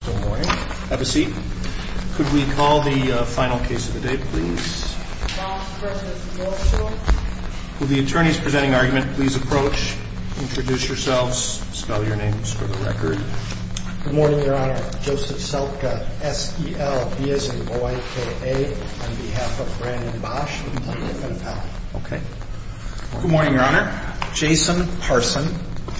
Good morning. Have a seat. Could we call the final case of the day, please? Bosch v. NorthShore. Will the attorneys presenting argument please approach, introduce yourselves, spell your names for the record. Good morning, Your Honor. Joseph Selka, S-E-L-B-S-H-O-I-K-A, on behalf of Brandon Bosch. Okay. Good morning, Your Honor. Jason Parson,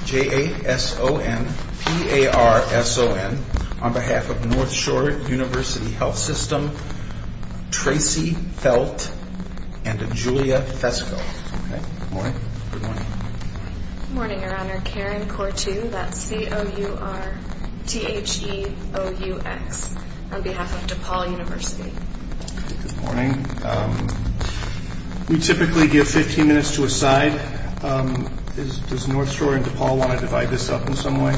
J-A-S-O-N-P-A-R-S-O-N, on behalf of NorthShore University Health System, Tracy Felt and Julia Fesko. Okay. Good morning. Good morning, Your Honor. Karen Cortu, that's C-O-U-R-T-H-E-O-U-X, on behalf of DePaul University. Good morning. We typically give 15 minutes to a side. Does NorthShore and DePaul want to divide this up in some way?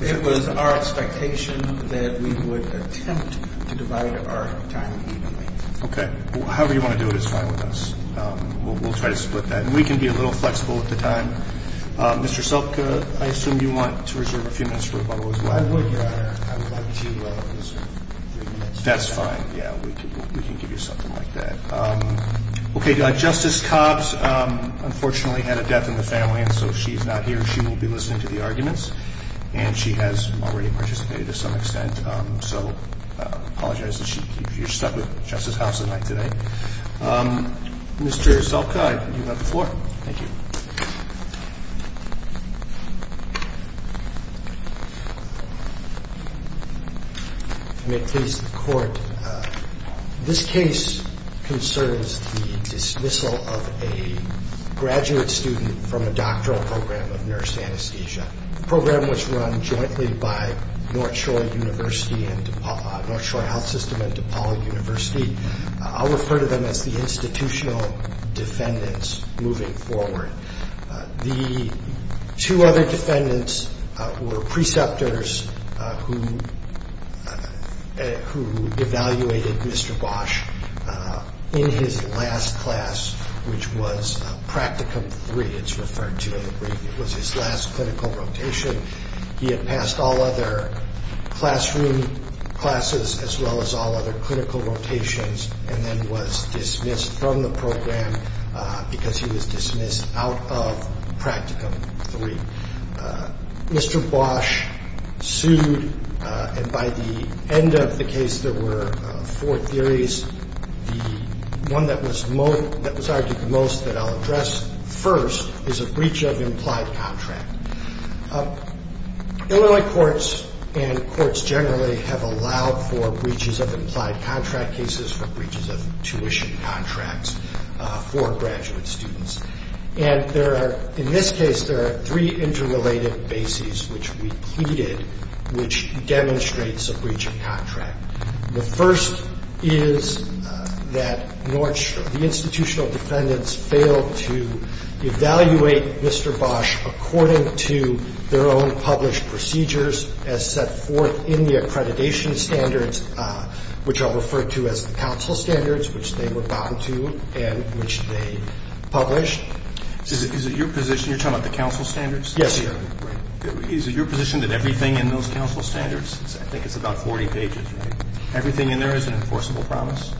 It was our expectation that we would attempt to divide our time evenly. Okay. However you want to do it is fine with us. We'll try to split that. And we can be a little flexible with the time. Mr. Selka, I assume you want to reserve a few minutes for rebuttal as well. I would, Your Honor. I would like to reserve three minutes. That's fine. Yeah. We can give you something like that. Okay. Justice Cobbs, unfortunately, had a death in the family, and so she's not here. She will be listening to the arguments, and she has already participated to some extent. So I apologize that she keeps you stuck with Justice Cobbs tonight. Mr. Selka, you have the floor. Thank you. If I may please the Court, this case concerns the dismissal of a graduate student from a doctoral program of nurse anesthesia. The program was run jointly by NorthShore Health System and DePaul University. I'll refer to them as the institutional defendants moving forward. The two other defendants were preceptors who evaluated Mr. Bosch in his last class, which was practicum three. It's referred to in the brief. It was his last clinical rotation. He had passed all other classroom classes as well as all other clinical rotations and then was dismissed from the program because he was dismissed out of practicum three. Mr. Bosch sued, and by the end of the case, there were four theories. The one that was argued the most that I'll address first is a breach of implied contract. Illinois courts and courts generally have allowed for breaches of implied contract cases, for breaches of tuition contracts for graduate students. And in this case, there are three interrelated bases which we pleaded which demonstrates a breach of contract. The first is that NorthShore, the institutional defendants, failed to evaluate Mr. Bosch according to their own published procedures as set forth in the accreditation standards, which I'll refer to as the counsel standards, which they were bound to and which they published. Is it your position you're talking about the counsel standards? Yes, sir. Is it your position that everything in those counsel standards, I think it's about 40 pages, right? Everything in there is an enforceable promise?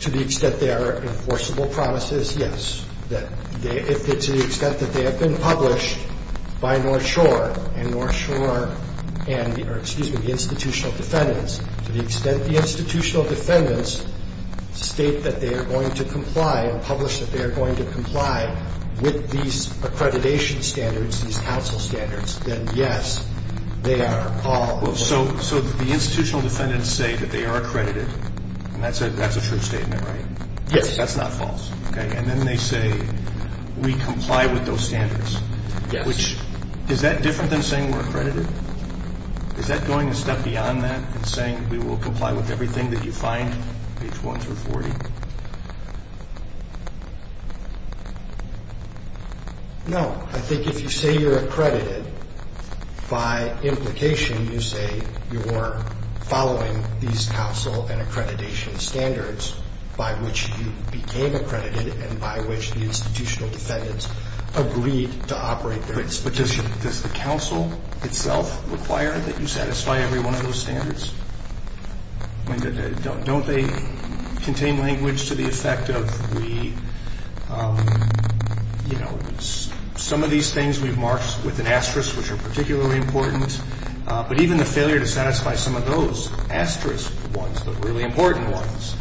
To the extent they are enforceable promises, yes. To the extent that they have been published by NorthShore and the institutional defendants, to the extent the institutional defendants state that they are going to comply and publish that they are going to comply with these accreditation standards, these counsel standards, then yes, they are all... So the institutional defendants say that they are accredited, and that's a true statement, right? Yes. That's not false, okay? And then they say we comply with those standards. Yes. Is that different than saying we're accredited? Is that going a step beyond that and saying we will comply with everything that you find, page 1 through 40? No. I think if you say you're accredited, by implication you say you're following these counsel and accreditation standards by which you became accredited and by which the institutional defendants agreed to operate their expeditions. Does the counsel itself require that you satisfy every one of those standards? Don't they contain language to the effect of we, you know, some of these things we've marked with an asterisk which are particularly important, but even the failure to satisfy some of those asterisk ones, the really important ones,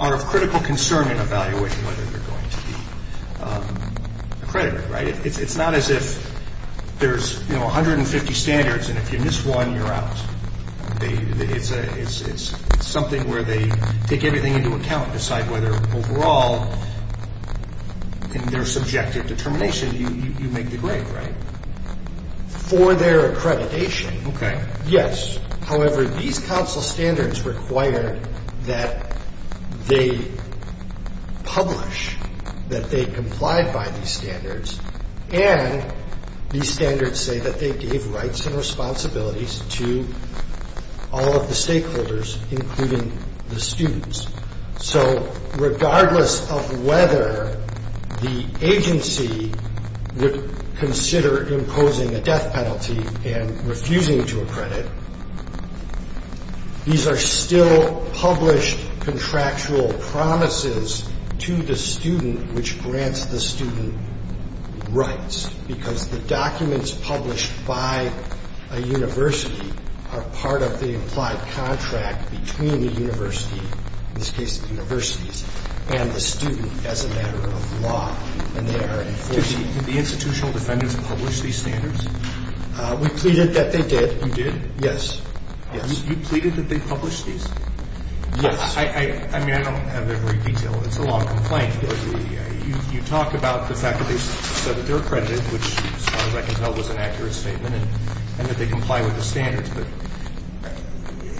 are of critical concern in evaluation whether you're going to be accredited, right? It's not as if there's, you know, 150 standards and if you miss one, you're out. It's something where they take everything into account and decide whether overall in their subjective determination you make the grade, right? For their accreditation, yes. However, these counsel standards require that they publish that they complied by these standards and these standards say that they gave rights and responsibilities to all of the stakeholders, including the students. So regardless of whether the agency would consider imposing a death penalty and refusing to accredit, these are still published contractual promises to the student which grants the student rights because the documents published by a university are part of the implied contract between the university, in this case the universities, and the student as a matter of law and they are enforced. Did the institutional defendants publish these standards? We pleaded that they did. You did? Yes. You pleaded that they published these? Yes. I mean, I don't have every detail. It's a long complaint. You talk about the fact that they said that they're accredited, which as far as I can tell was an accurate statement and that they comply with the standards,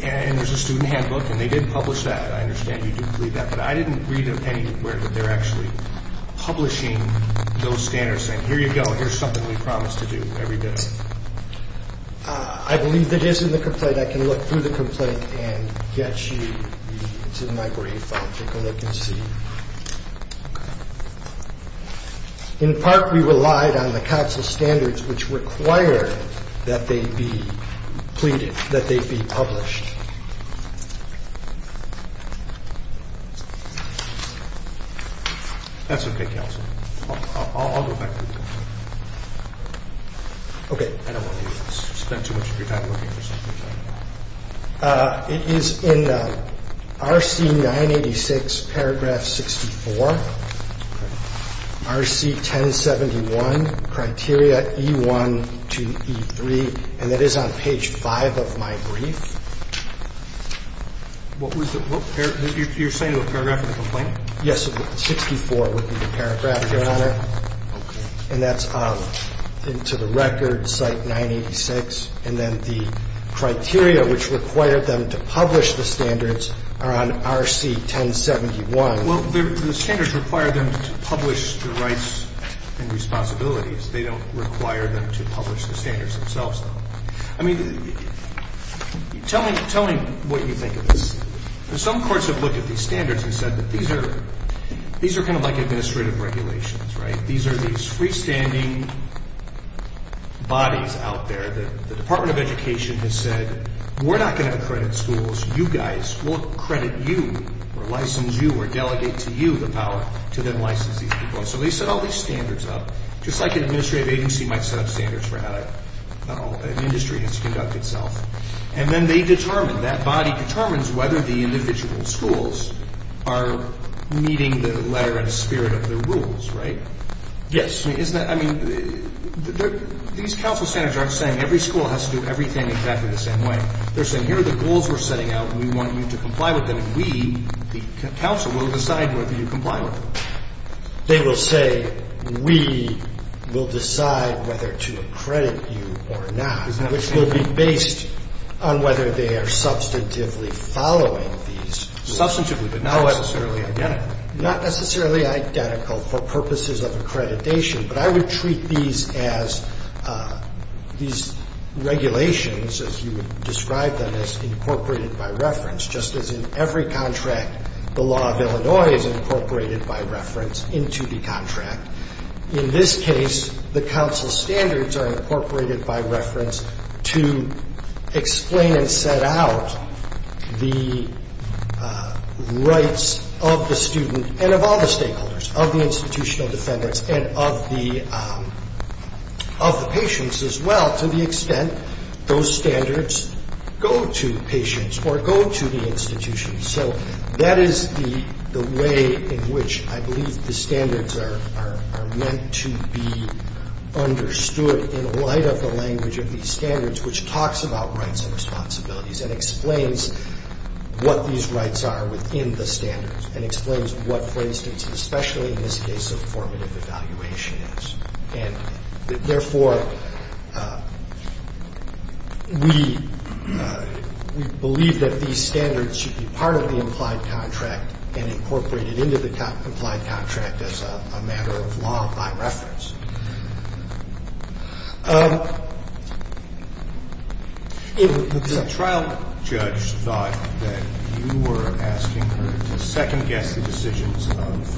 and there's a student handbook and they didn't publish that. I understand you did plead that, but I didn't read anywhere that they're actually publishing those standards saying here you go, here's something we promise to do every day. I believe it is in the complaint. I can look through the complaint and get you the library file to go look and see. In part we relied on the council standards which required that they be pleaded, that they be published. That's okay, counsel. I'll go back to the complaint. Okay. I don't want you to spend too much of your time looking for something. It is in RC-986 paragraph 64, RC-1071, criteria E1 to E3, and that is on page 5 of my brief. You're saying the paragraph of the complaint? Yes, 64 would be the paragraph, Your Honor. Okay. And that's off into the record, site 986, and then the criteria which required them to publish the standards are on RC-1071. Well, the standards require them to publish the rights and responsibilities. They don't require them to publish the standards themselves, though. I mean, tell me what you think of this. Some courts have looked at these standards and said that these are kind of like administrative regulations, right? These are these freestanding bodies out there. The Department of Education has said, we're not going to credit schools. You guys, we'll credit you or license you or delegate to you the power to then license these people. And so they set all these standards up, just like an administrative agency might set up standards for how an industry has to conduct itself. And then they determine, that body determines whether the individual schools are meeting the letter and spirit of the rules, right? Yes. I mean, these counsel standards aren't saying every school has to do everything exactly the same way. They're saying, here are the goals we're setting out, and we want you to comply with them, and we, the counsel, will decide whether you comply with them. They will say, we will decide whether to accredit you or not, which will be based on whether they are substantively following these rules. Substantively, but not necessarily identical. Not necessarily identical for purposes of accreditation. But I would treat these as, these regulations, as you would describe them, as incorporated by reference, just as in every contract, the law of Illinois is incorporated by reference into the contract. In this case, the counsel standards are incorporated by reference to explain and set out the rights of the student, and of all the stakeholders, of the institutional defendants, and of the patients as well, to the extent those standards go to patients or go to the institution. So that is the way in which I believe the standards are meant to be understood in light of the language of these standards, which talks about rights and responsibilities and explains what these rights are within the standards and explains what, for instance, especially in this case, a formative evaluation is. And therefore, we believe that these standards should be part of the implied contract and incorporated into the implied contract as a matter of law by reference. The trial judge thought that you were asking her to second-guess the decisions of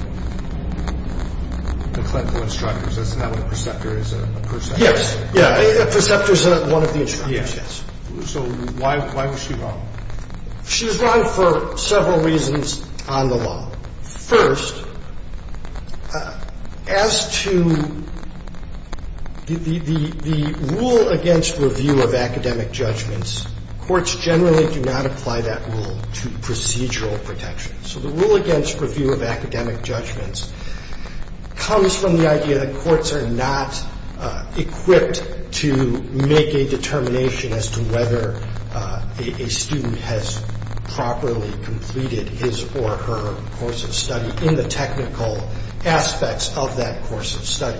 the clinical instructors. Isn't that what a preceptor is, a person? Yes. Yeah. A preceptor is one of the instructors. Yes. So why was she wrong? She was wrong for several reasons on the law. First, as to the rule against review of academic judgments, courts generally do not apply that rule to procedural protections. So the rule against review of academic judgments comes from the idea that courts are not equipped to make a determination as to whether a student has properly completed his or her course of study in the technical aspects of that course of study.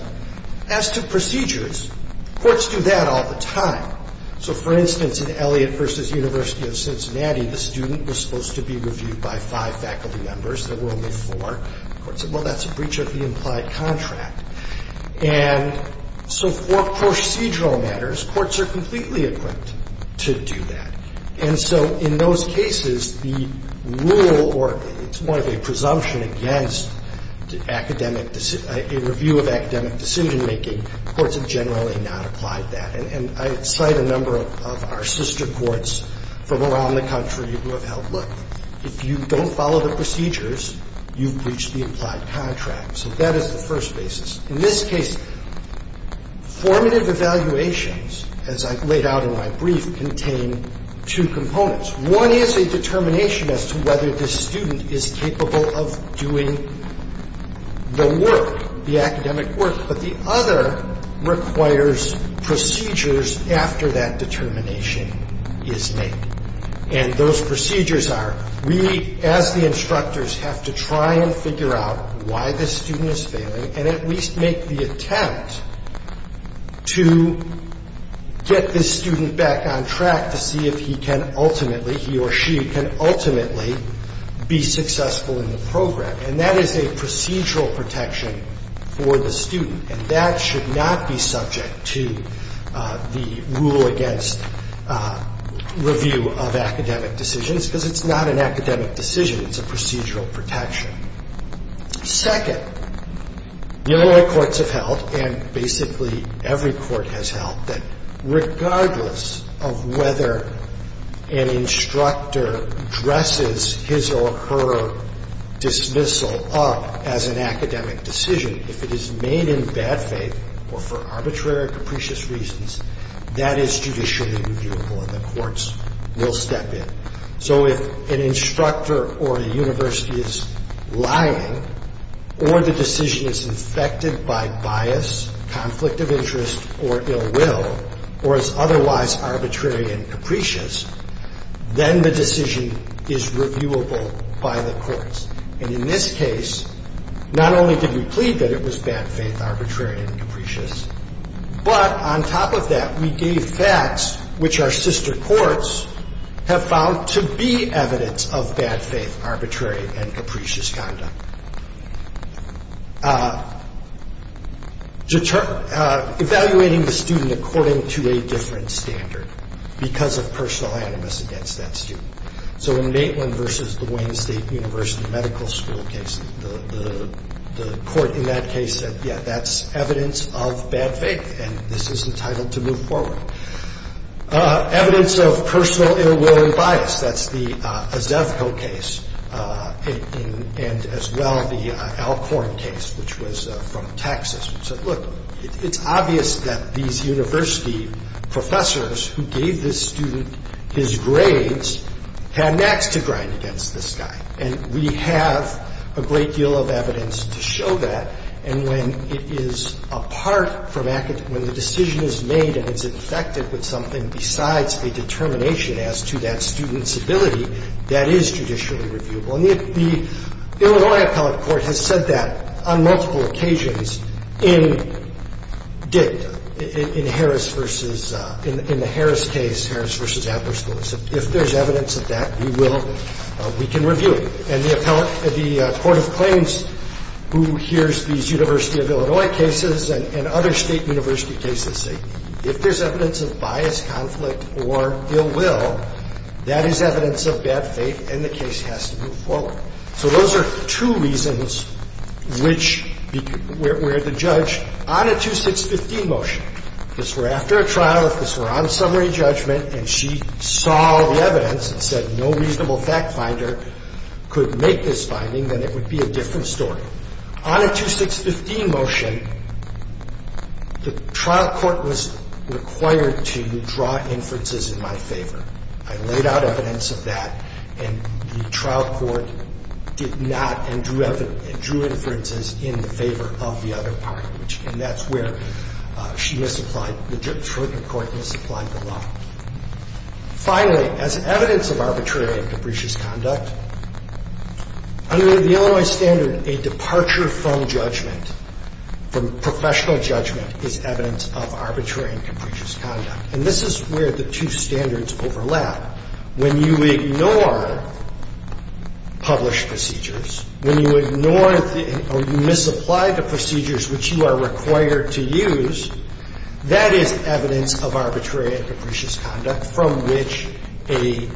As to procedures, courts do that all the time. So, for instance, in Elliott v. University of Cincinnati, the student was supposed to be reviewed by five faculty members. There were only four. The court said, well, that's a breach of the implied contract. And so for procedural matters, courts are completely equipped to do that. And so in those cases, the rule or it's more of a presumption against academic a review of academic decision-making, courts have generally not applied that. And I cite a number of our sister courts from around the country who have held, look, if you don't follow the procedures, you've breached the implied contract. So that is the first basis. In this case, formative evaluations, as I've laid out in my brief, contain two components. One is a determination as to whether the student is capable of doing the work, the academic work. But the other requires procedures after that determination is made. And those procedures are we, as the instructors, have to try and figure out why the student is failing and at least make the attempt to get this student back on track to see if he can ultimately, he or she can ultimately be successful in the program. And that is a procedural protection for the student. And that should not be subject to the rule against review of academic decisions because it's not an academic decision. It's a procedural protection. Second, Illinois courts have held, and basically every court has held, that regardless of whether an instructor dresses his or her dismissal up as an academic decision, if it is made in bad faith or for arbitrary or capricious reasons, that is judicially reviewable and the courts will step in. So if an instructor or a university is lying or the decision is infected by bias, conflict of interest, or ill will, or is otherwise arbitrary and capricious, then the decision is reviewable by the courts. And in this case, not only did we plead that it was bad faith, arbitrary, and capricious, but on top of that, we gave facts which our sister courts have found to be evidence of bad faith, arbitrary, and capricious conduct, evaluating the student according to a different standard because of personal animus against that student. So in Maitland versus the Wayne State University Medical School case, the court in that case said, yeah, that's evidence of bad faith, and this is entitled to move forward. Evidence of personal ill will and bias, that's the Azevco case, and as well the Alcorn case, which was from Texas, which said, look, it's obvious that these university professors who gave this student his grades had knacks to grind against this guy. And we have a great deal of evidence to show that. And when it is apart from academic – when the decision is made and it's infected with something besides a determination as to that student's ability, that is judicially reviewable. And the Illinois appellate court has said that on multiple occasions in dicta, in Harris versus – in the Harris case, Harris versus Adler School. So if there's evidence of that, we will – we can review it. And the appellate – the court of claims who hears these University of Illinois cases and other state university cases say, if there's evidence of bias, conflict, or ill will, that is evidence of bad faith, and the case has to move forward. So those are two reasons which – where the judge on a 2615 motion – if this were after a trial, if this were on summary judgment, and she saw the evidence and said no reasonable fact finder could make this finding, then it would be a different story. On a 2615 motion, the trial court was required to draw inferences in my favor. I laid out evidence of that, and the trial court did not and drew inferences in favor of the other party. And that's where she misapplied – the jurisprudent court misapplied the law. Finally, as evidence of arbitrary and capricious conduct, under the Illinois standard, a departure from judgment, from professional judgment, is evidence of arbitrary and capricious conduct. And this is where the two standards overlap. When you ignore published procedures, when you ignore or you misapply the procedures which you are required to use, that is evidence of arbitrary and capricious conduct from which a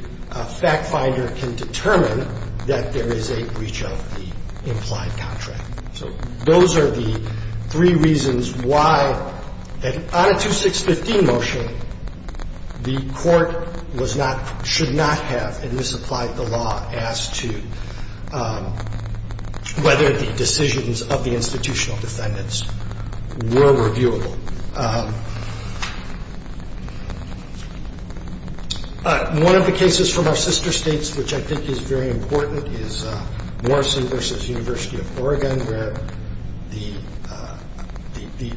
fact finder can determine that there is a breach of the implied contract. So those are the three reasons why, on a 2615 motion, the Court was not – should not have misapplied the law as to whether the decisions of the institutional defendants were reviewable. One of the cases from our sister states, which I think is very important, is Morrison v. University of Oregon, where the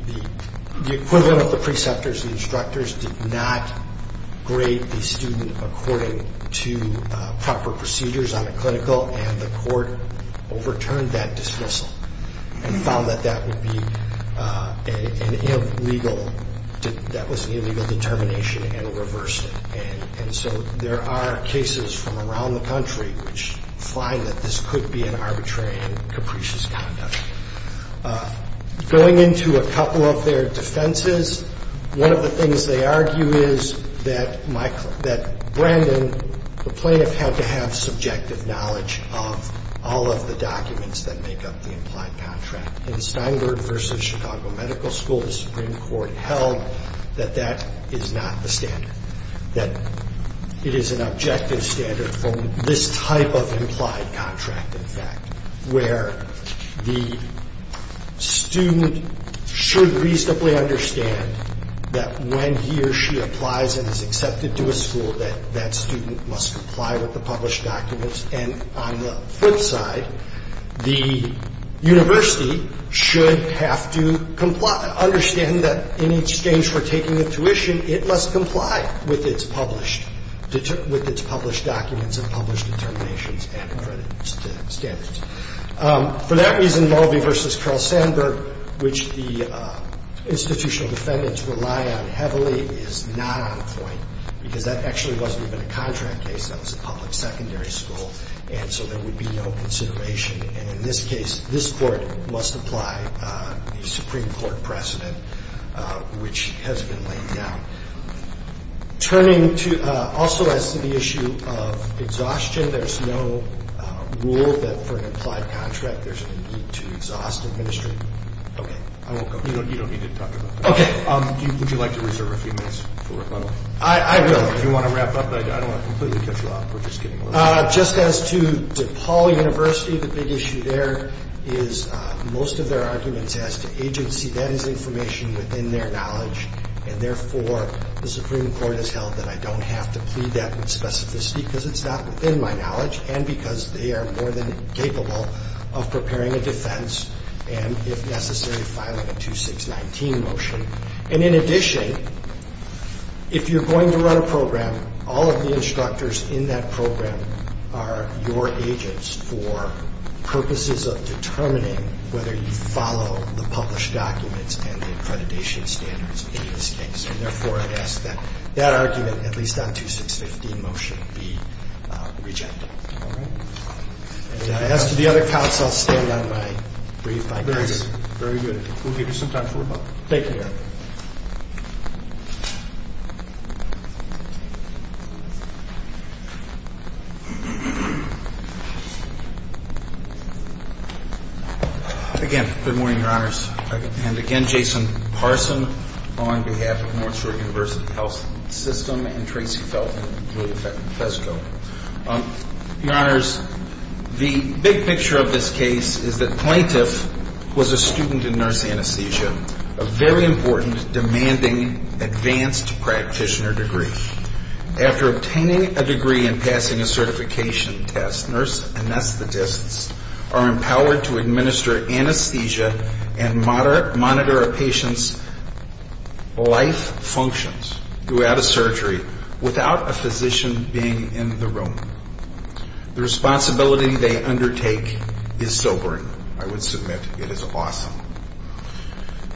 equivalent of the preceptors, the instructors, did not grade the student according to proper procedures on a clinical, and the Court overturned that dismissal and found that that would be an invalidation that was an illegal determination and reversed it. And so there are cases from around the country which find that this could be an arbitrary and capricious conduct. Going into a couple of their defenses, one of the things they argue is that Brandon, the plaintiff had to have subjective knowledge of all of the documents that make up the implied contract. In Steinberg v. Chicago Medical School, the Supreme Court held that that is not the standard, that it is an objective standard from this type of implied contract, in fact, where the student should reasonably understand that when he or she applies and is accepted to a school, that that student must comply with the published documents. And on the flip side, the university should have to understand that in exchange for taking a tuition, it must comply with its published documents and published determinations and standards. For that reason, Mulvey v. Carl Sandburg, which the institutional defendants rely on heavily, is not on point because that actually wasn't even a contract case. That was a public secondary school, and so there would be no consideration. And in this case, this court must apply a Supreme Court precedent, which has been laid down. Turning to also as to the issue of exhaustion, there's no rule that for an implied contract, there's a need to exhaust administration. Okay, I won't go. You don't need to talk about that. Okay. Would you like to reserve a few minutes for rebuttal? I will. Do you want to wrap up? I don't want to completely cut you off. We're just getting started. Just as to DePaul University, the big issue there is most of their arguments as to agency. That is information within their knowledge, and therefore the Supreme Court has held that I don't have to plead that with specificity because it's not within my knowledge and because they are more than capable of preparing a defense and, if necessary, filing a 2619 motion. And in addition, if you're going to run a program, all of the instructors in that program are your agents for purposes of determining whether you follow the published documents and the accreditation standards in this case. And therefore, I ask that that argument, at least on 2615 motion, be rejected. All right? And as to the other counts, I'll stay on my brief by grace. Very good. We'll give you some time for rebuttal. Thank you. Again, good morning, Your Honors. And again, Jason Parson on behalf of North Shore University Health System and Tracy Felton and Julia Fezko. Your Honors, the big picture of this case is that Plaintiff was a student in nurse anesthesia, a very important, demanding, advanced practitioner degree. After obtaining a degree and passing a certification test, nurse anesthetists are empowered to administer anesthesia and monitor a patient's life functions throughout a surgery without a physician being in the room. The responsibility they undertake is sobering. I would submit it is awesome.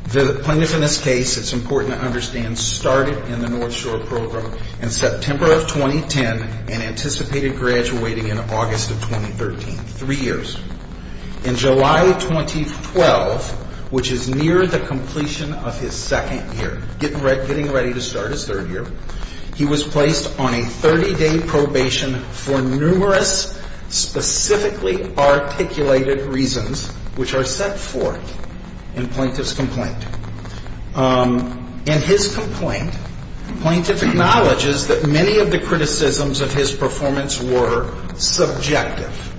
The plaintiff in this case, it's important to understand, started in the North Shore program in September of 2010 and anticipated graduating in August of 2013, three years. In July 2012, which is near the completion of his second year, getting ready to start his third year, he was placed on a 30-day probation for numerous specifically articulated reasons which are set forth in Plaintiff's complaint. In his complaint, Plaintiff acknowledges that many of the criticisms of his performance were subjective,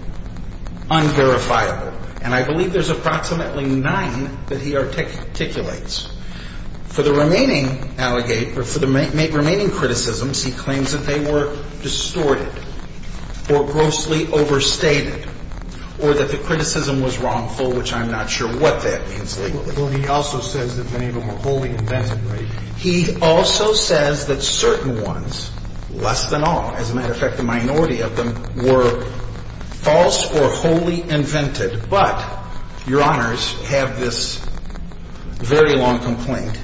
unverifiable. And I believe there's approximately nine that he articulates. For the remaining criticisms, he claims that they were distorted or grossly overstated or that the criticism was wrongful, which I'm not sure what that means legally. But he also says that many of them were wholly invented, right? He also says that certain ones, less than all. As a matter of fact, the minority of them were false or wholly invented. But, Your Honors, I have this very long complaint.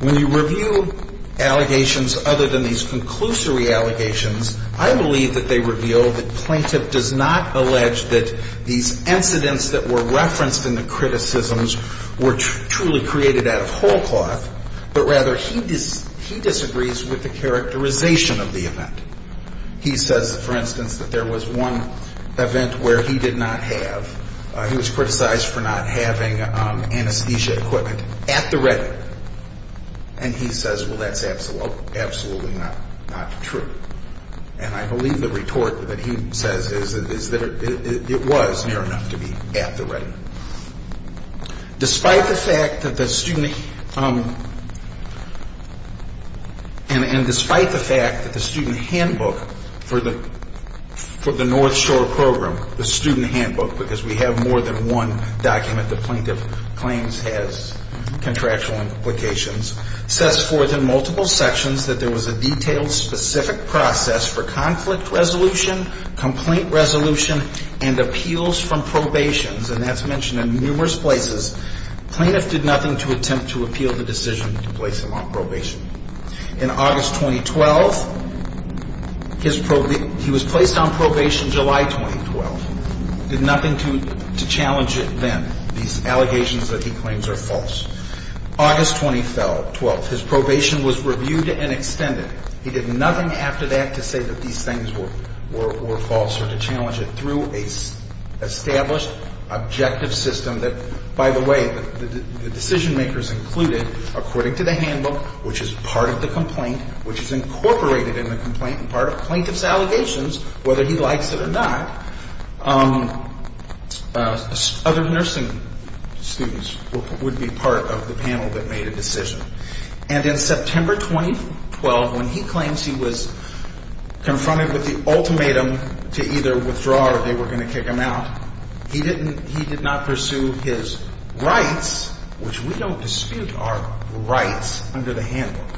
When you review allegations other than these conclusory allegations, I believe that they reveal that Plaintiff does not allege that these incidents that were referenced in the criticisms were truly created out of whole cloth, but rather he disagrees with the characterization of the event. He says, for instance, that there was one event where he did not have, he was criticized for not having anesthesia equipment at the ready. And he says, well, that's absolutely not true. And I believe the retort that he says is that it was near enough to be at the ready. Despite the fact that the student, and despite the fact that the student handbook for the North Shore program, the student handbook, because we have more than one document that Plaintiff claims has contractual implications, says forth in multiple sections that there was a detailed, specific process for conflict resolution, complaint resolution, and appeals from probation. And that's mentioned in numerous places. Plaintiff did nothing to attempt to appeal the decision to place him on probation. In August 2012, he was placed on probation July 2012. He did nothing to challenge it then, these allegations that he claims are false. August 2012, his probation was reviewed and extended. He did nothing after that to say that these things were false or to challenge it through an established objective system that, by the way, the decision makers included, according to the handbook, which is part of the complaint, which is incorporated in the complaint and part of Plaintiff's allegations, whether he likes it or not, other nursing students would be part of the panel that made a decision. And in September 2012, when he claims he was confronted with the ultimatum to either withdraw or they were going to kick him out, he did not pursue his rights, which we don't dispute our rights under the handbook.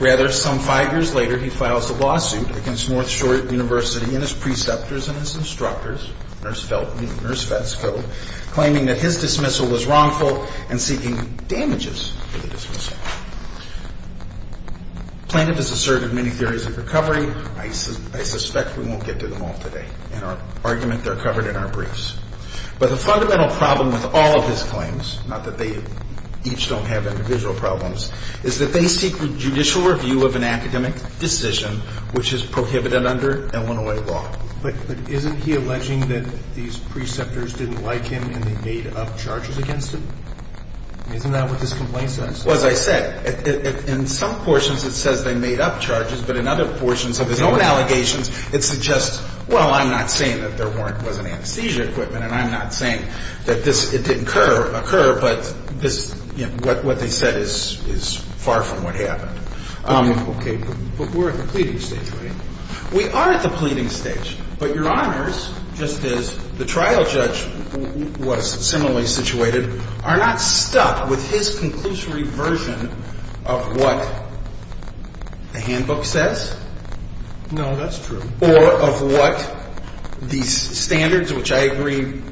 Rather, some five years later, he files a lawsuit against North Shore University and his preceptors and his instructors, nurse Vetsville, claiming that his dismissal was wrongful and seeking damages for the dismissal. Plaintiff has asserted many theories of recovery. I suspect we won't get to them all today. In our argument, they're covered in our briefs. But the fundamental problem with all of his claims, not that they each don't have individual problems, is that they seek judicial review of an academic decision which is prohibited under Illinois law. But isn't he alleging that these preceptors didn't like him and they made up charges against him? Isn't that what this complaint says? Well, as I said, in some portions it says they made up charges, but in other portions of his own allegations, it suggests, well, I'm not saying that there wasn't anesthesia equipment and I'm not saying that it didn't occur, but what they said is far from what happened. Okay, but we're at the pleading stage, right? We are at the pleading stage. But Your Honors, just as the trial judge was similarly situated, are not stuck with his conclusory version of what the handbook says? No, that's true. Or of what these standards, which I agree with.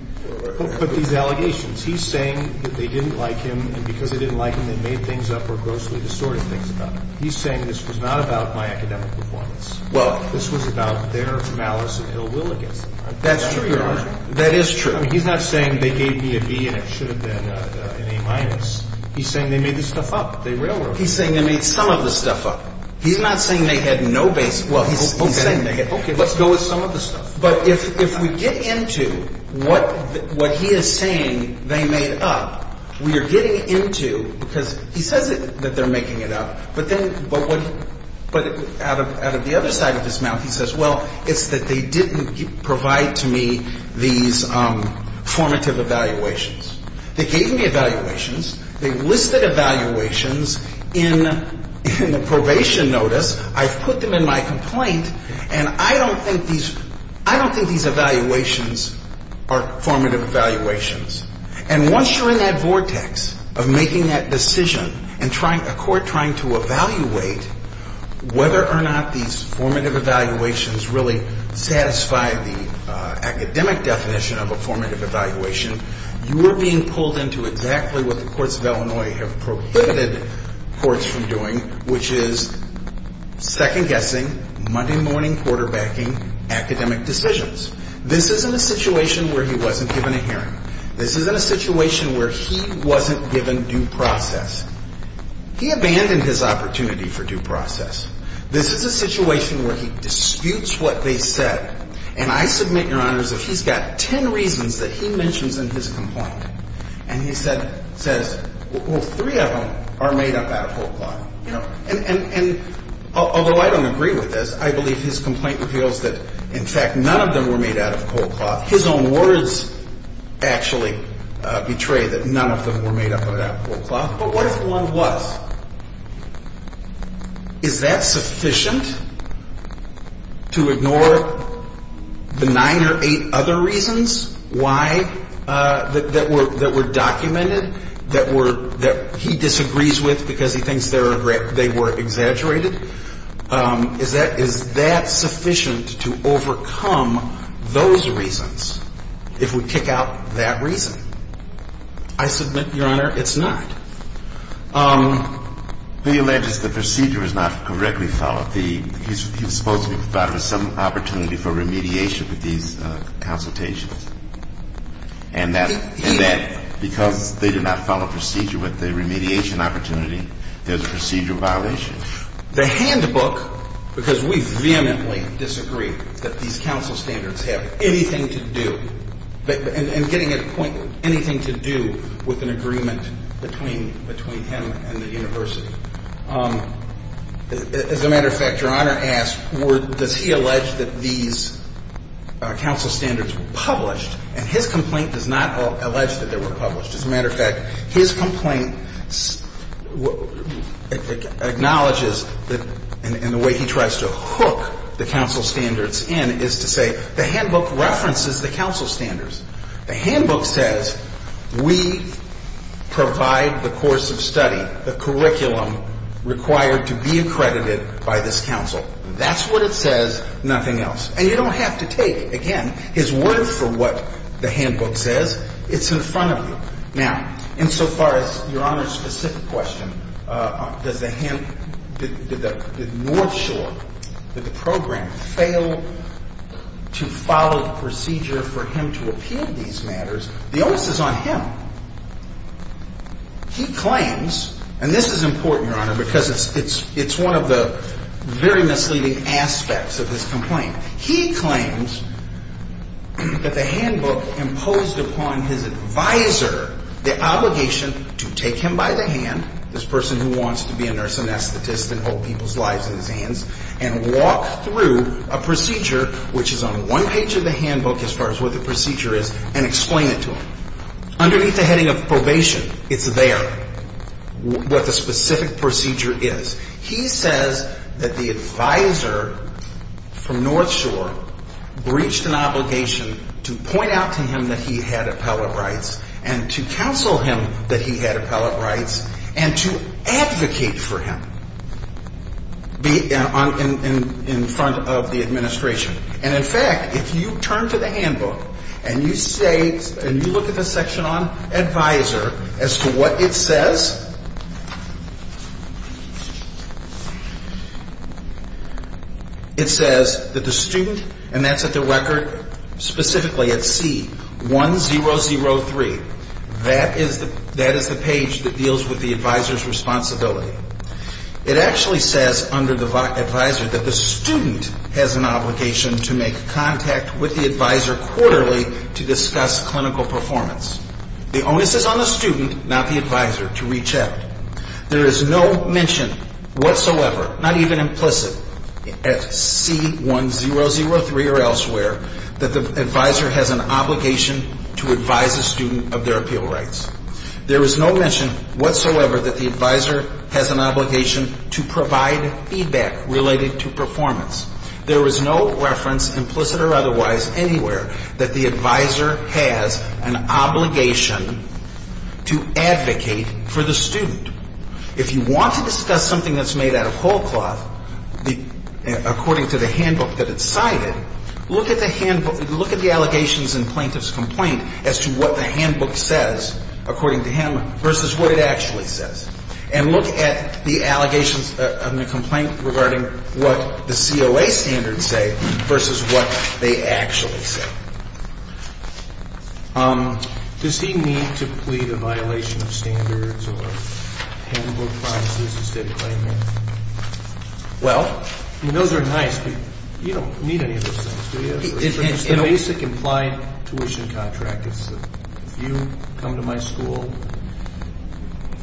But these allegations, he's saying that they didn't like him and because they didn't like him they made things up or grossly distorted things about him. He's saying this was not about my academic performance. This was about their malice and ill will against me. That's true, Your Honor. That is true. He's not saying they gave me a B and it should have been an A-. He's saying they made this stuff up, they railroaded it. He's saying they made some of the stuff up. He's not saying they had no base. Okay, let's go with some of the stuff. But if we get into what he is saying they made up, we are getting into, because he says that they're making it up, but out of the other side of his mouth he says, well, it's that they didn't provide to me these formative evaluations. They gave me evaluations. They listed evaluations in the probation notice. I've put them in my complaint, and I don't think these evaluations are formative evaluations. And once you're in that vortex of making that decision and a court trying to evaluate whether or not these formative evaluations really satisfy the academic definition of a formative evaluation, you are being pulled into exactly what the courts of Illinois have prohibited courts from doing, which is second-guessing, Monday morning quarterbacking academic decisions. This is in a situation where he wasn't given a hearing. This is in a situation where he wasn't given due process. He abandoned his opportunity for due process. This is a situation where he disputes what they said. And I submit, Your Honors, that he's got ten reasons that he mentions in his complaint. And he says, well, three of them are made up out of cold cloth. And although I don't agree with this, I believe his complaint reveals that, in fact, none of them were made out of cold cloth. His own words actually betray that none of them were made up out of cold cloth. But what if one was? Is that sufficient to ignore the nine or eight other reasons why that were documented, that he disagrees with because he thinks they were exaggerated? Is that sufficient to overcome those reasons if we kick out that reason? I submit, Your Honor, it's not. He alleges the procedure is not correctly followed. He's supposed to be provided with some opportunity for remediation with these consultations, and that because they did not follow procedure with the remediation opportunity, there's a procedure violation. The handbook, because we vehemently disagree that these counsel standards have anything to do and getting at a point anything to do with an agreement between him and the university. As a matter of fact, Your Honor asks, does he allege that these counsel standards were published? And his complaint does not allege that they were published. As a matter of fact, his complaint acknowledges, and the way he tries to hook the counsel standards in, is to say the handbook references the counsel standards. The handbook says we provide the course of study, the curriculum required to be accredited by this counsel. That's what it says, nothing else. And you don't have to take, again, his word for what the handbook says. It's in front of you. Now, insofar as Your Honor's specific question, does the handbook, did North Shore, did the program fail to follow the procedure for him to appeal these matters, the onus is on him. He claims, and this is important, Your Honor, because it's one of the very misleading aspects of his complaint. He claims that the handbook imposed upon his advisor the obligation to take him by the hand, this person who wants to be a nurse anesthetist and hold people's lives in his hands, and walk through a procedure which is on one page of the handbook as far as what the procedure is, and explain it to him. Underneath the heading of probation, it's there, what the specific procedure is. He says that the advisor from North Shore breached an obligation to point out to him that he had appellate rights and to counsel him that he had appellate rights and to advocate for him in front of the administration. And in fact, if you turn to the handbook and you say, and you look at the section on advisor as to what it says, it says that the student, and that's at the record specifically at C1003, that is the page that deals with the advisor's responsibility. It actually says under the advisor that the student has an obligation to make contact with the advisor quarterly to discuss clinical performance. The onus is on the student, not the advisor, to reach out. There is no mention whatsoever, not even implicit at C1003 or elsewhere, that the advisor has an obligation to advise a student of their appeal rights. There is no mention whatsoever that the advisor has an obligation to provide feedback related to performance. There is no reference, implicit or otherwise, anywhere, that the advisor has an obligation to advocate for the student. If you want to discuss something that's made out of whole cloth, according to the handbook that it's cited, look at the handbook. Look at the allegations in plaintiff's complaint as to what the handbook says, according to him, versus what it actually says. And look at the allegations in the complaint regarding what the COA standards say versus what they actually say. Does he need to plead a violation of standards or handbook violations instead of claiming? Well, those are nice people. You don't need any of those things, do you? It's the basic implied tuition contract. It's if you come to my school,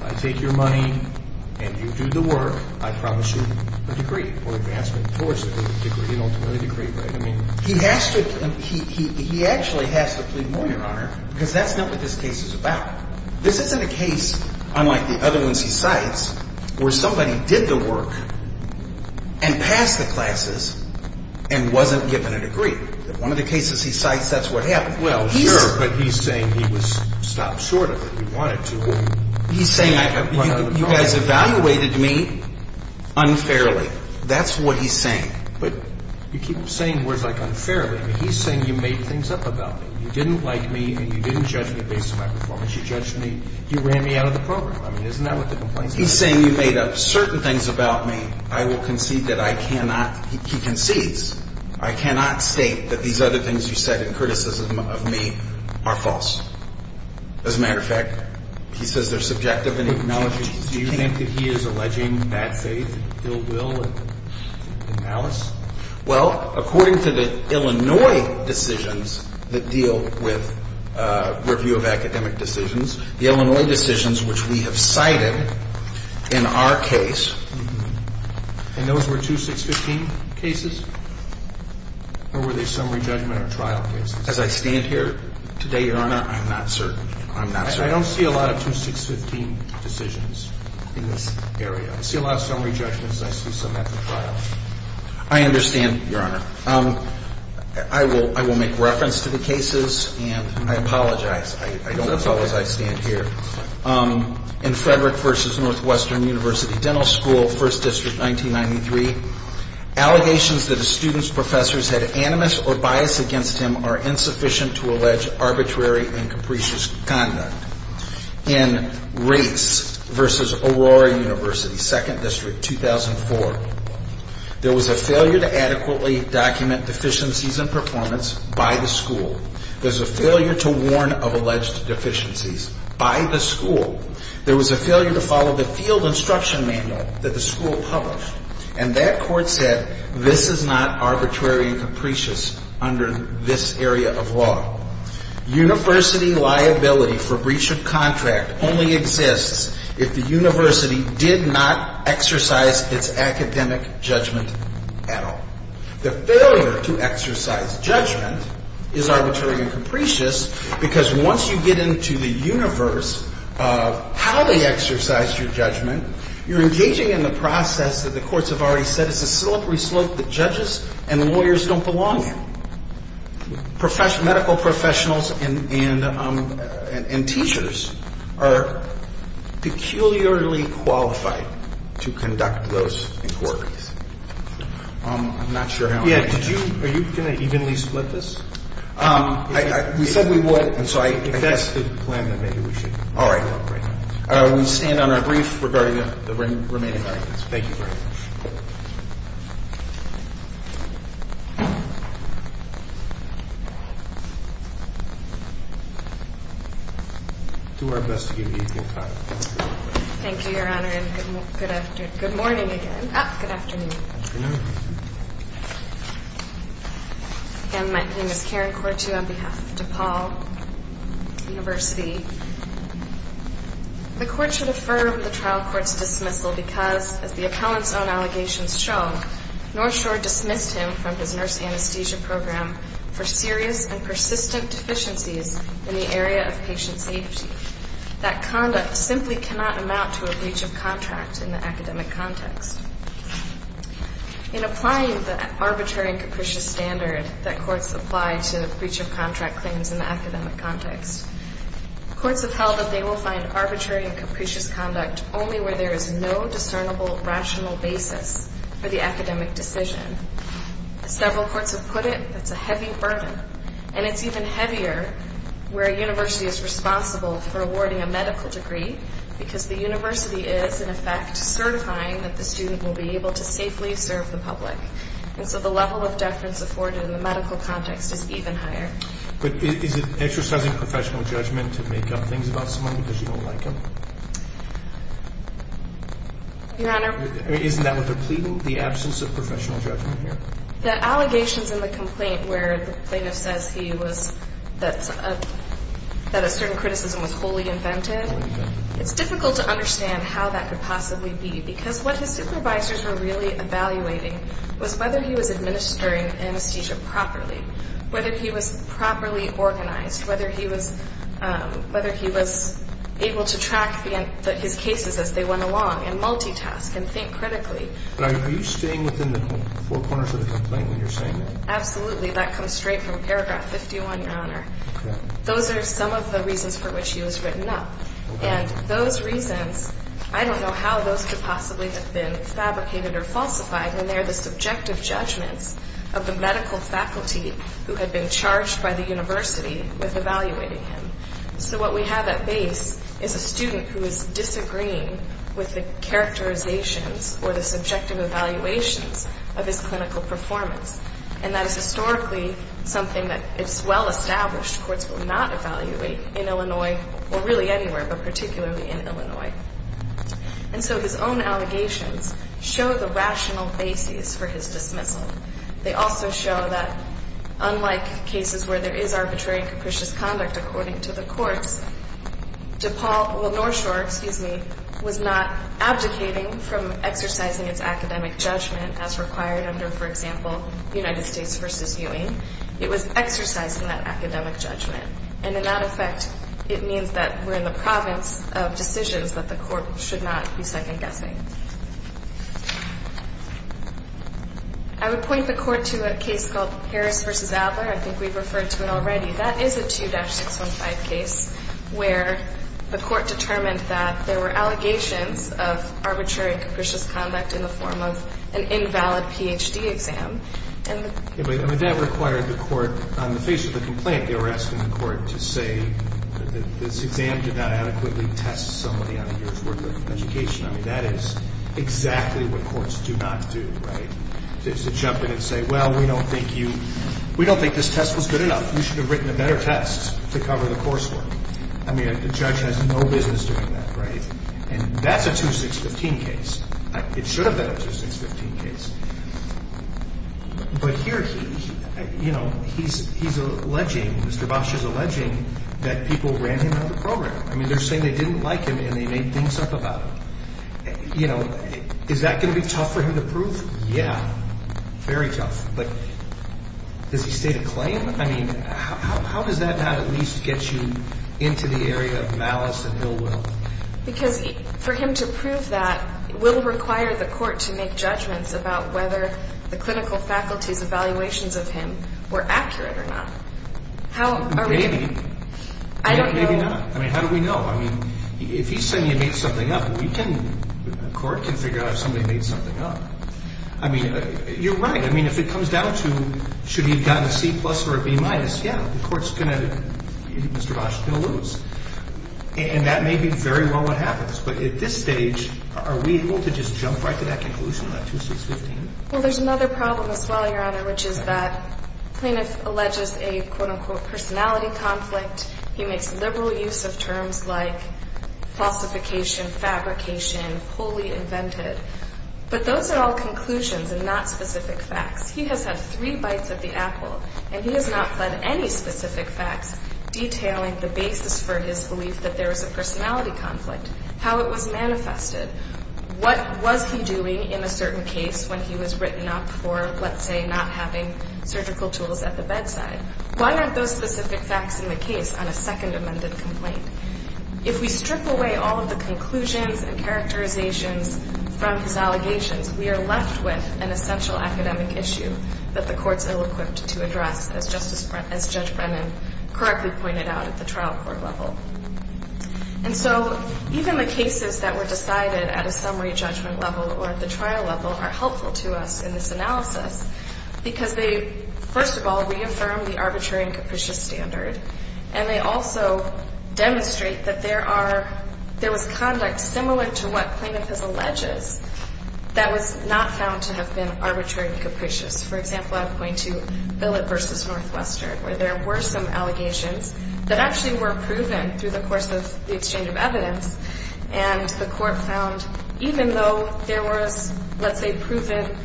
I take your money, and you do the work, I promise you a degree or advancement towards a degree. You don't need a degree, right? He actually has to plead more, Your Honor, because that's not what this case is about. This isn't a case, unlike the other ones he cites, where somebody did the work and passed the classes and wasn't given a degree. One of the cases he cites, that's what happened. Well, sure, but he's saying he was stopped short of it. He wanted to. He's saying you guys evaluated me unfairly. That's what he's saying. But you keep saying words like unfairly. He's saying you made things up about me. You didn't like me and you didn't judge me based on my performance. You judged me. You ran me out of the program. I mean, isn't that what the complaint is about? He's saying you made up certain things about me. I will concede that I cannot. He concedes. I cannot state that these other things you said in criticism of me are false. As a matter of fact, he says they're subjective and he can't change anything. Do you think that he is alleging bad faith, ill will, and malice? Well, according to the Illinois decisions that deal with review of academic decisions, the Illinois decisions which we have cited in our case. And those were 2-6-15 cases? Or were they summary judgment or trial cases? As I stand here today, Your Honor, I'm not certain. I'm not certain. I don't see a lot of 2-6-15 decisions in this area. I see a lot of summary judgments and I see some after trial. I understand, Your Honor. I will make reference to the cases and I apologize. I don't apologize. I stand here. In Frederick v. Northwestern University Dental School, 1st District, 1993, allegations that a student's professors had animus or bias against him are insufficient to allege arbitrary and capricious conduct. In Race v. Aurora University, 2nd District, 2004, there was a failure to adequately document deficiencies in performance by the school. There was a failure to warn of alleged deficiencies by the school. There was a failure to follow the field instruction manual that the school published. And that court said this is not arbitrary and capricious under this area of law. University liability for breach of contract only exists if the university did not exercise its academic judgment at all. The failure to exercise judgment is arbitrary and capricious because once you get into the universe of how they exercise your judgment, you're engaging in the process that the courts have already said is a syllabary slope that judges and lawyers don't belong in. Medical professionals and teachers are peculiarly qualified to conduct those inquiries. I'm not sure how many. Yeah, are you going to evenly split this? We said we would, and so I guess... If that's the plan, then maybe we should. All right. We stand on our brief regarding the remaining arguments. Thank you very much. Do our best to give you time. Thank you, Your Honor, and good morning again. Good afternoon. Good afternoon. Again, my name is Karen Kortu on behalf of DePaul University. The court should affirm the trial court's dismissal because, as the accountants' own allegations show, Northshore dismissed him from his nurse anesthesia program for serious and persistent deficiencies in the area of patient safety. That conduct simply cannot amount to a breach of contract in the academic context. In applying the arbitrary and capricious standard that courts apply to breach of contract claims in the academic context, courts have held that they will find arbitrary and capricious conduct only where there is no discernible rational basis for the academic decision. As several courts have put it, that's a heavy burden, and it's even heavier where a university is responsible for awarding a medical degree because the university is, in effect, certifying that the student will be able to safely serve the public, and so the level of deference afforded in the medical context is even higher. But is it exercising professional judgment to make up things about someone because you don't like them? Your Honor... Isn't that what they're pleading, the absence of professional judgment here? The allegations in the complaint where the plaintiff says he was, that a certain criticism was wholly invented, it's difficult to understand how that could possibly be because what his supervisors were really evaluating was whether he was administering anesthesia properly, whether he was properly organized, whether he was able to track his cases as they went along and multitask and think critically. Are you staying within the four corners of the complaint when you're saying that? Absolutely. That comes straight from paragraph 51, Your Honor. Those are some of the reasons for which he was written up, and those reasons, I don't know how those could possibly have been fabricated or falsified when they're the subjective judgments of the medical faculty who had been charged by the university with evaluating him. So what we have at base is a student who is disagreeing with the characterizations or the subjective evaluations of his clinical performance, and that is historically something that it's well-established courts will not evaluate in Illinois, or really anywhere, but particularly in Illinois. And so his own allegations show the rational basis for his dismissal. They also show that, unlike cases where there is arbitrary and capricious conduct according to the courts, North Shore was not abdicating from exercising its academic judgment as required under, for example, United States v. Ewing. It was exercising that academic judgment. And in that effect, it means that we're in the province of decisions that the court should not be second-guessing. I would point the court to a case called Harris v. Adler. I think we've referred to it already. That is a 2-615 case where the court determined that there were allegations of arbitrary and capricious conduct in the form of an invalid Ph.D. exam. I mean, that required the court, on the face of the complaint, they were asking the court to say that this exam did not adequately test somebody on a year's worth of education. I mean, that is exactly what courts do not do, right, is to jump in and say, well, we don't think this test was good enough. We should have written a better test to cover the coursework. I mean, the judge has no business doing that, right? And that's a 2-615 case. It should have been a 2-615 case. But here he's alleging, Mr. Bosh is alleging, that people ran him out of the program. I mean, they're saying they didn't like him and they made things up about him. You know, is that going to be tough for him to prove? Yeah, very tough. But does he state a claim? I mean, how does that not at least get you into the area of malice and ill will? Because for him to prove that will require the court to make judgments about whether the clinical faculty's evaluations of him were accurate or not. Maybe. Maybe not. I mean, how do we know? I mean, if he's saying he made something up, the court can figure out if somebody made something up. I mean, you're right. I mean, if it comes down to should he have gotten a C-plus or a B-minus, yeah, the court's going to, Mr. Bosh, still lose. And that may be very well what happens. But at this stage, are we able to just jump right to that conclusion on that 2-615? Well, there's another problem as well, Your Honor, which is that the plaintiff alleges a, quote, unquote, personality conflict. He makes liberal use of terms like falsification, fabrication, wholly invented. But those are all conclusions and not specific facts. He has had three bites of the apple, and he has not fled any specific facts detailing the basis for his belief that there was a personality conflict, how it was manifested, what was he doing in a certain case when he was written up for, let's say, not having surgical tools at the bedside. Why aren't those specific facts in the case on a second amended complaint? If we strip away all of the conclusions and characterizations from his allegations, we are left with an essential academic issue that the court's ill-equipped to address, as Judge Brennan correctly pointed out at the trial court level. And so even the cases that were decided at a summary judgment level or at the trial level are helpful to us in this analysis because they, first of all, reaffirm the arbitrary and capricious standard, and they also demonstrate that there are – there was conduct similar to what plaintiff has alleged that was not found to have been arbitrary and capricious. For example, I would point to Billett v. Northwestern, where there were some allegations that actually were proven through the course of the exchange of evidence, and the court found even though there was, let's say, proven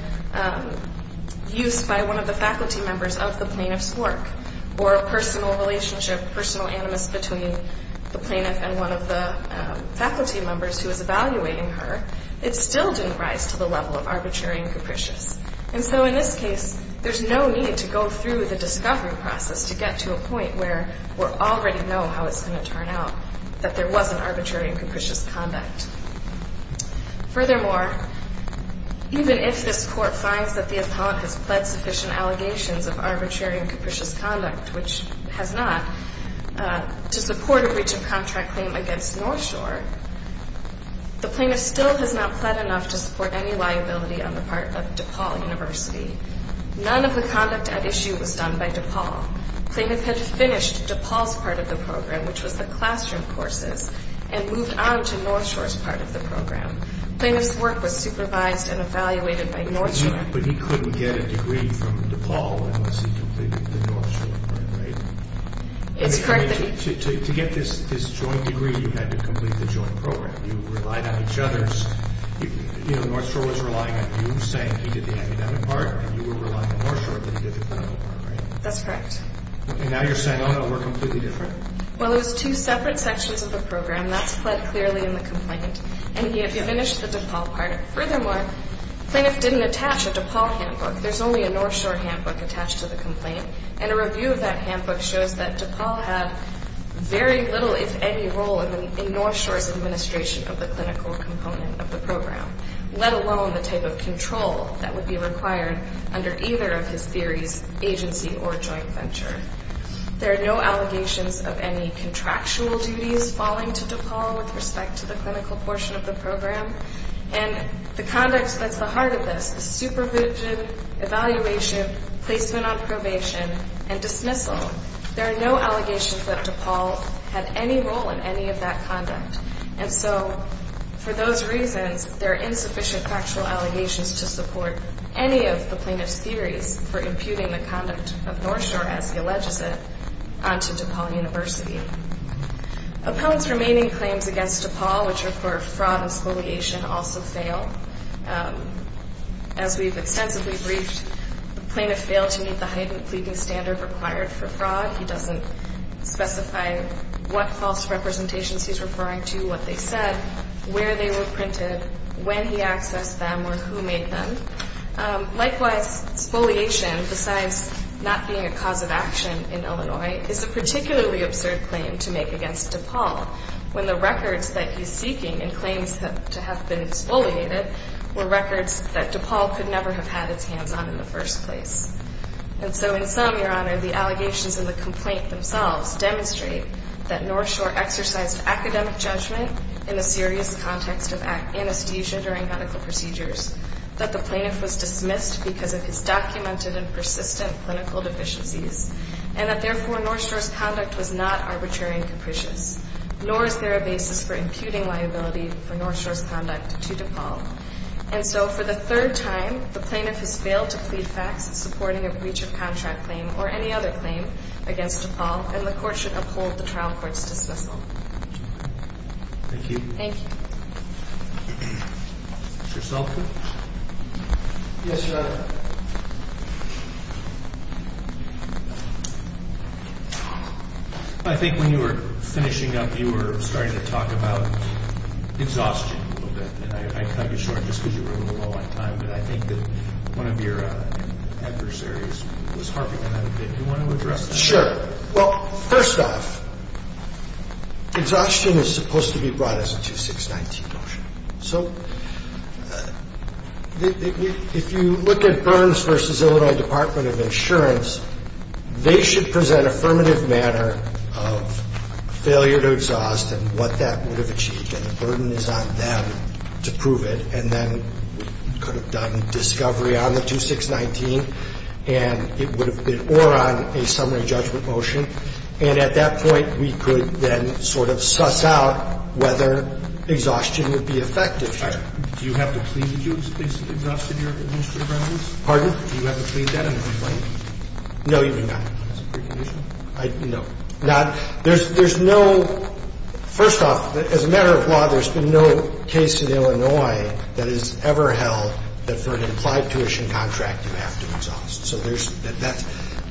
use by one of the faculty members of the plaintiff's work or a personal relationship, personal animus between the plaintiff and one of the faculty members who was evaluating her, it still didn't rise to the level of arbitrary and capricious. And so in this case, there's no need to go through the discovery process to get to a point where we already know how it's going to turn out, that there wasn't arbitrary and capricious conduct. Furthermore, even if this court finds that the appellant has pled sufficient allegations of arbitrary and capricious conduct, which has not, to support a breach of contract claim against North Shore, the plaintiff still has not pled enough to support any liability on the part of DePaul University. None of the conduct at issue was done by DePaul. Plaintiff had finished DePaul's part of the program, which was the classroom courses, and moved on to North Shore's part of the program. Plaintiff's work was supervised and evaluated by North Shore. But he couldn't get a degree from DePaul unless he completed the North Shore, right? It's correct that he... To get this joint degree, you had to complete the joint program. You relied on each other's... You know, North Shore was relying on you, saying he did the academic part, and you were relying on North Shore, but he did the clinical part, right? That's correct. And now you're saying, oh, no, we're completely different? Well, it was two separate sections of the program. That's pled clearly in the complaint, and he had finished the DePaul part. Furthermore, plaintiff didn't attach a DePaul handbook. There's only a North Shore handbook attached to the complaint, and a review of that handbook shows that DePaul had very little, if any, role in North Shore's administration of the clinical component of the program, let alone the type of control that would be required under either of his theories, agency or joint venture. There are no allegations of any contractual duties falling to DePaul with respect to the clinical portion of the program. And the conduct that's the heart of this is supervision, evaluation, placement on probation, and dismissal. There are no allegations that DePaul had any role in any of that conduct. And so for those reasons, there are insufficient factual allegations to support any of the plaintiff's theories for imputing the conduct of North Shore, as he alleges it, onto DePaul University. Appellants' remaining claims against DePaul, which are for fraud and scoliation, also fail. As we've extensively briefed, the plaintiff failed to meet the heightened pleading standard required for fraud. He doesn't specify what false representations he's referring to, what they said, where they were printed, when he accessed them, or who made them. Likewise, scoliation, besides not being a cause of action in Illinois, is a particularly absurd claim to make against DePaul, when the records that he's seeking and claims to have been exfoliated were records that DePaul could never have had its hands on in the first place. And so in sum, Your Honor, the allegations in the complaint themselves demonstrate that North Shore exercised academic judgment in the serious context of anesthesia during medical procedures, that the plaintiff was dismissed because of his documented and persistent clinical deficiencies, and that therefore North Shore's conduct was not arbitrary and capricious, nor is there a basis for imputing liability for North Shore's conduct to DePaul. And so for the third time, the plaintiff has failed to plead facts in supporting a breach of contract claim or any other claim against DePaul, and the court should uphold the trial court's dismissal. Thank you. Thank you. Mr. Selkin? Yes, Your Honor. I think when you were finishing up, you were starting to talk about exhaustion a little bit, and I'd cut you short just because you were a little low on time, but I think that one of your adversaries was harping on that a bit. Do you want to address that? Sure. Well, first off, exhaustion is supposed to be brought as a 2619 motion. So if you look at Burns v. Illinois Department of Insurance, they should present affirmative manner of failure to exhaust and what that would have achieved, and the burden is on them to prove it, and then we could have done discovery on the 2619 and it would have been or on a summary judgment motion, and at that point we could then sort of suss out whether exhaustion would be effective. Do you have to plead that you exhausted your administrative remedies? Pardon? Do you have to plead that in a complaint? No, you do not. Is that a precondition? No. There's no – first off, as a matter of law, there's been no case in Illinois that has ever held that for an implied tuition contract you have to exhaust. So there's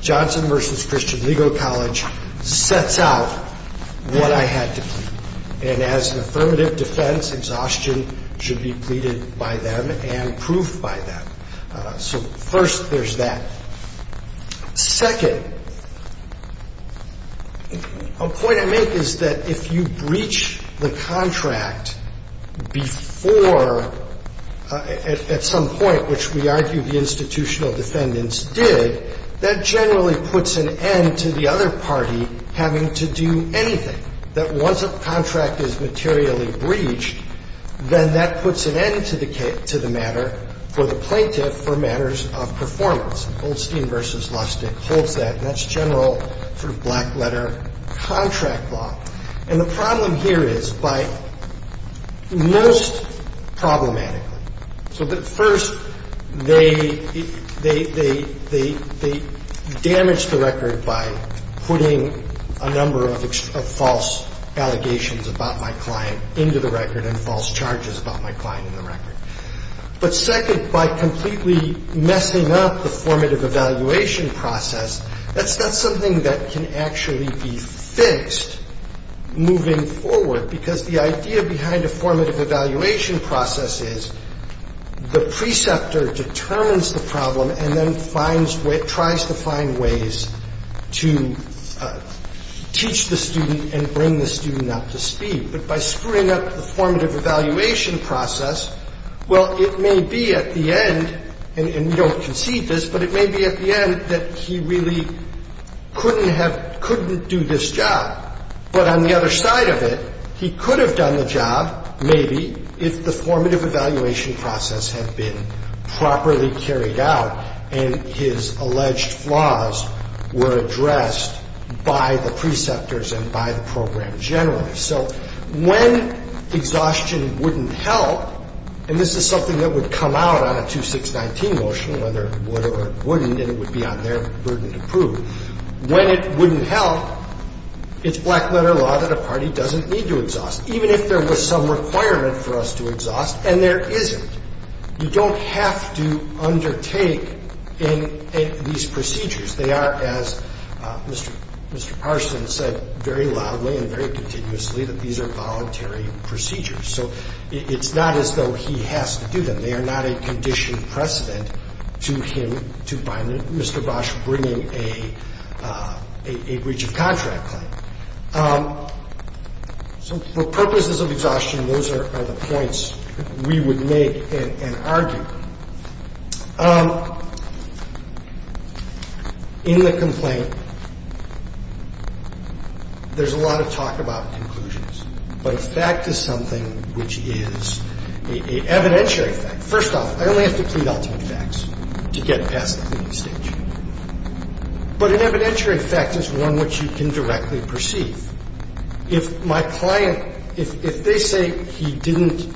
– Johnson v. Christian Legal College sets out what I had to plead, and as an affirmative defense, exhaustion should be pleaded by them and proved by them. So first there's that. Second, a point I make is that if you breach the contract before at some point, which we argue the institutional defendants did, that generally puts an end to the other party having to do anything. That once a contract is materially breached, then that puts an end to the matter for the plaintiff for matters of performance. So the point I make is that if you breach the contract before at some point, And that's true of the other contract. Goldstein v. Lustig holds that, and that's general sort of black-letter contract law. And the problem here is by most problematically. So first, they damage the record by putting a number of false allegations about my client into the record and false charges about my client in the record. But second, by completely messing up the formative evaluation process, That's not something that can actually be fixed moving forward, because the idea behind a formative evaluation process is the preceptor determines the problem and then finds, tries to find ways to teach the student and bring the student up to speed. But by screwing up the formative evaluation process, well, it may be at the end, and we don't concede this, but it may be at the end that he really couldn't have, couldn't do this job. But on the other side of it, he could have done the job, maybe, if the formative evaluation process had been properly carried out and his alleged flaws were addressed by the preceptors and by the program generally. So when exhaustion wouldn't help, and this is something that would come out on a 2619 motion, whether it would or it wouldn't, and it would be on their burden to prove, when it wouldn't help, it's black-letter law that a party doesn't need to exhaust, even if there was some requirement for us to exhaust, and there isn't. You don't have to undertake these procedures. They are, as Mr. Parsons said very loudly and very continuously, that these are voluntary procedures. So it's not as though he has to do them. They are not a conditioned precedent to him, to Mr. Bosch, bringing a breach of contract claim. So for purposes of exhaustion, those are the points we would make and argue. In the complaint, there's a lot of talk about conclusions. But a fact is something which is an evidentiary fact. First off, I only have to plead ultimate facts to get past the cleaning stage. But an evidentiary fact is one which you can directly perceive. If my client, if they say he didn't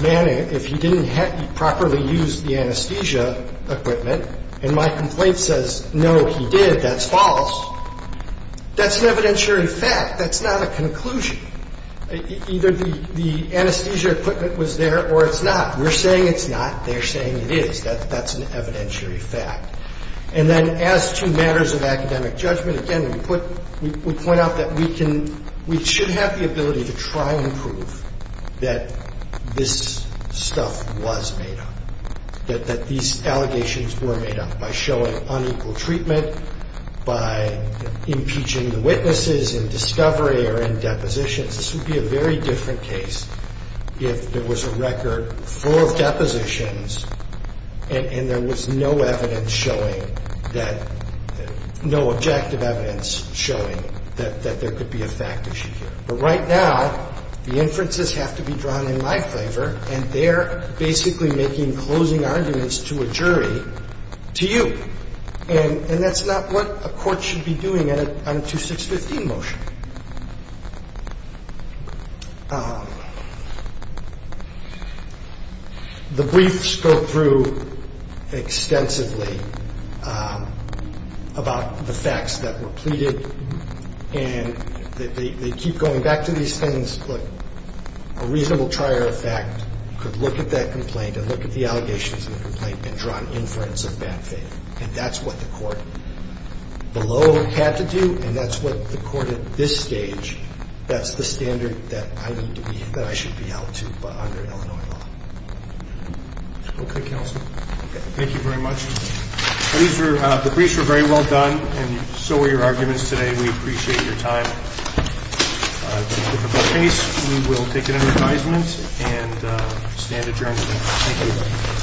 manage, if he didn't properly use the anesthesia equipment, and my complaint says, no, he did, that's false, that's an evidentiary fact. That's not a conclusion. Either the anesthesia equipment was there or it's not. We're saying it's not. They're saying it is. That's an evidentiary fact. And then as to matters of academic judgment, again, we point out that we can, we should have the ability to try and prove that this stuff was made up, that these allegations were made up by showing unequal treatment, by impeaching the witnesses in discovery or in depositions. This would be a very different case if there was a record full of depositions and there was no evidence showing that, no objective evidence showing that there could be a fact issue here. But right now, the inferences have to be drawn in my favor and they're basically making closing arguments to a jury to you. And that's not what a court should be doing on a 2615 motion. The briefs go through extensively about the facts that were pleaded and they keep going back to these things, but a reasonable trier of fact could look at that complaint and look at the allegations in the complaint and draw an inference of that thing. And that's what the court below had to do and that's what the court at this stage, that's the standard that I need to be, that I should be held to under Illinois law. Okay, counsel. Thank you very much. The briefs were very well done and so were your arguments today. We appreciate your time. It's a difficult case. We will take it under advisement and stand adjourned. Thank you.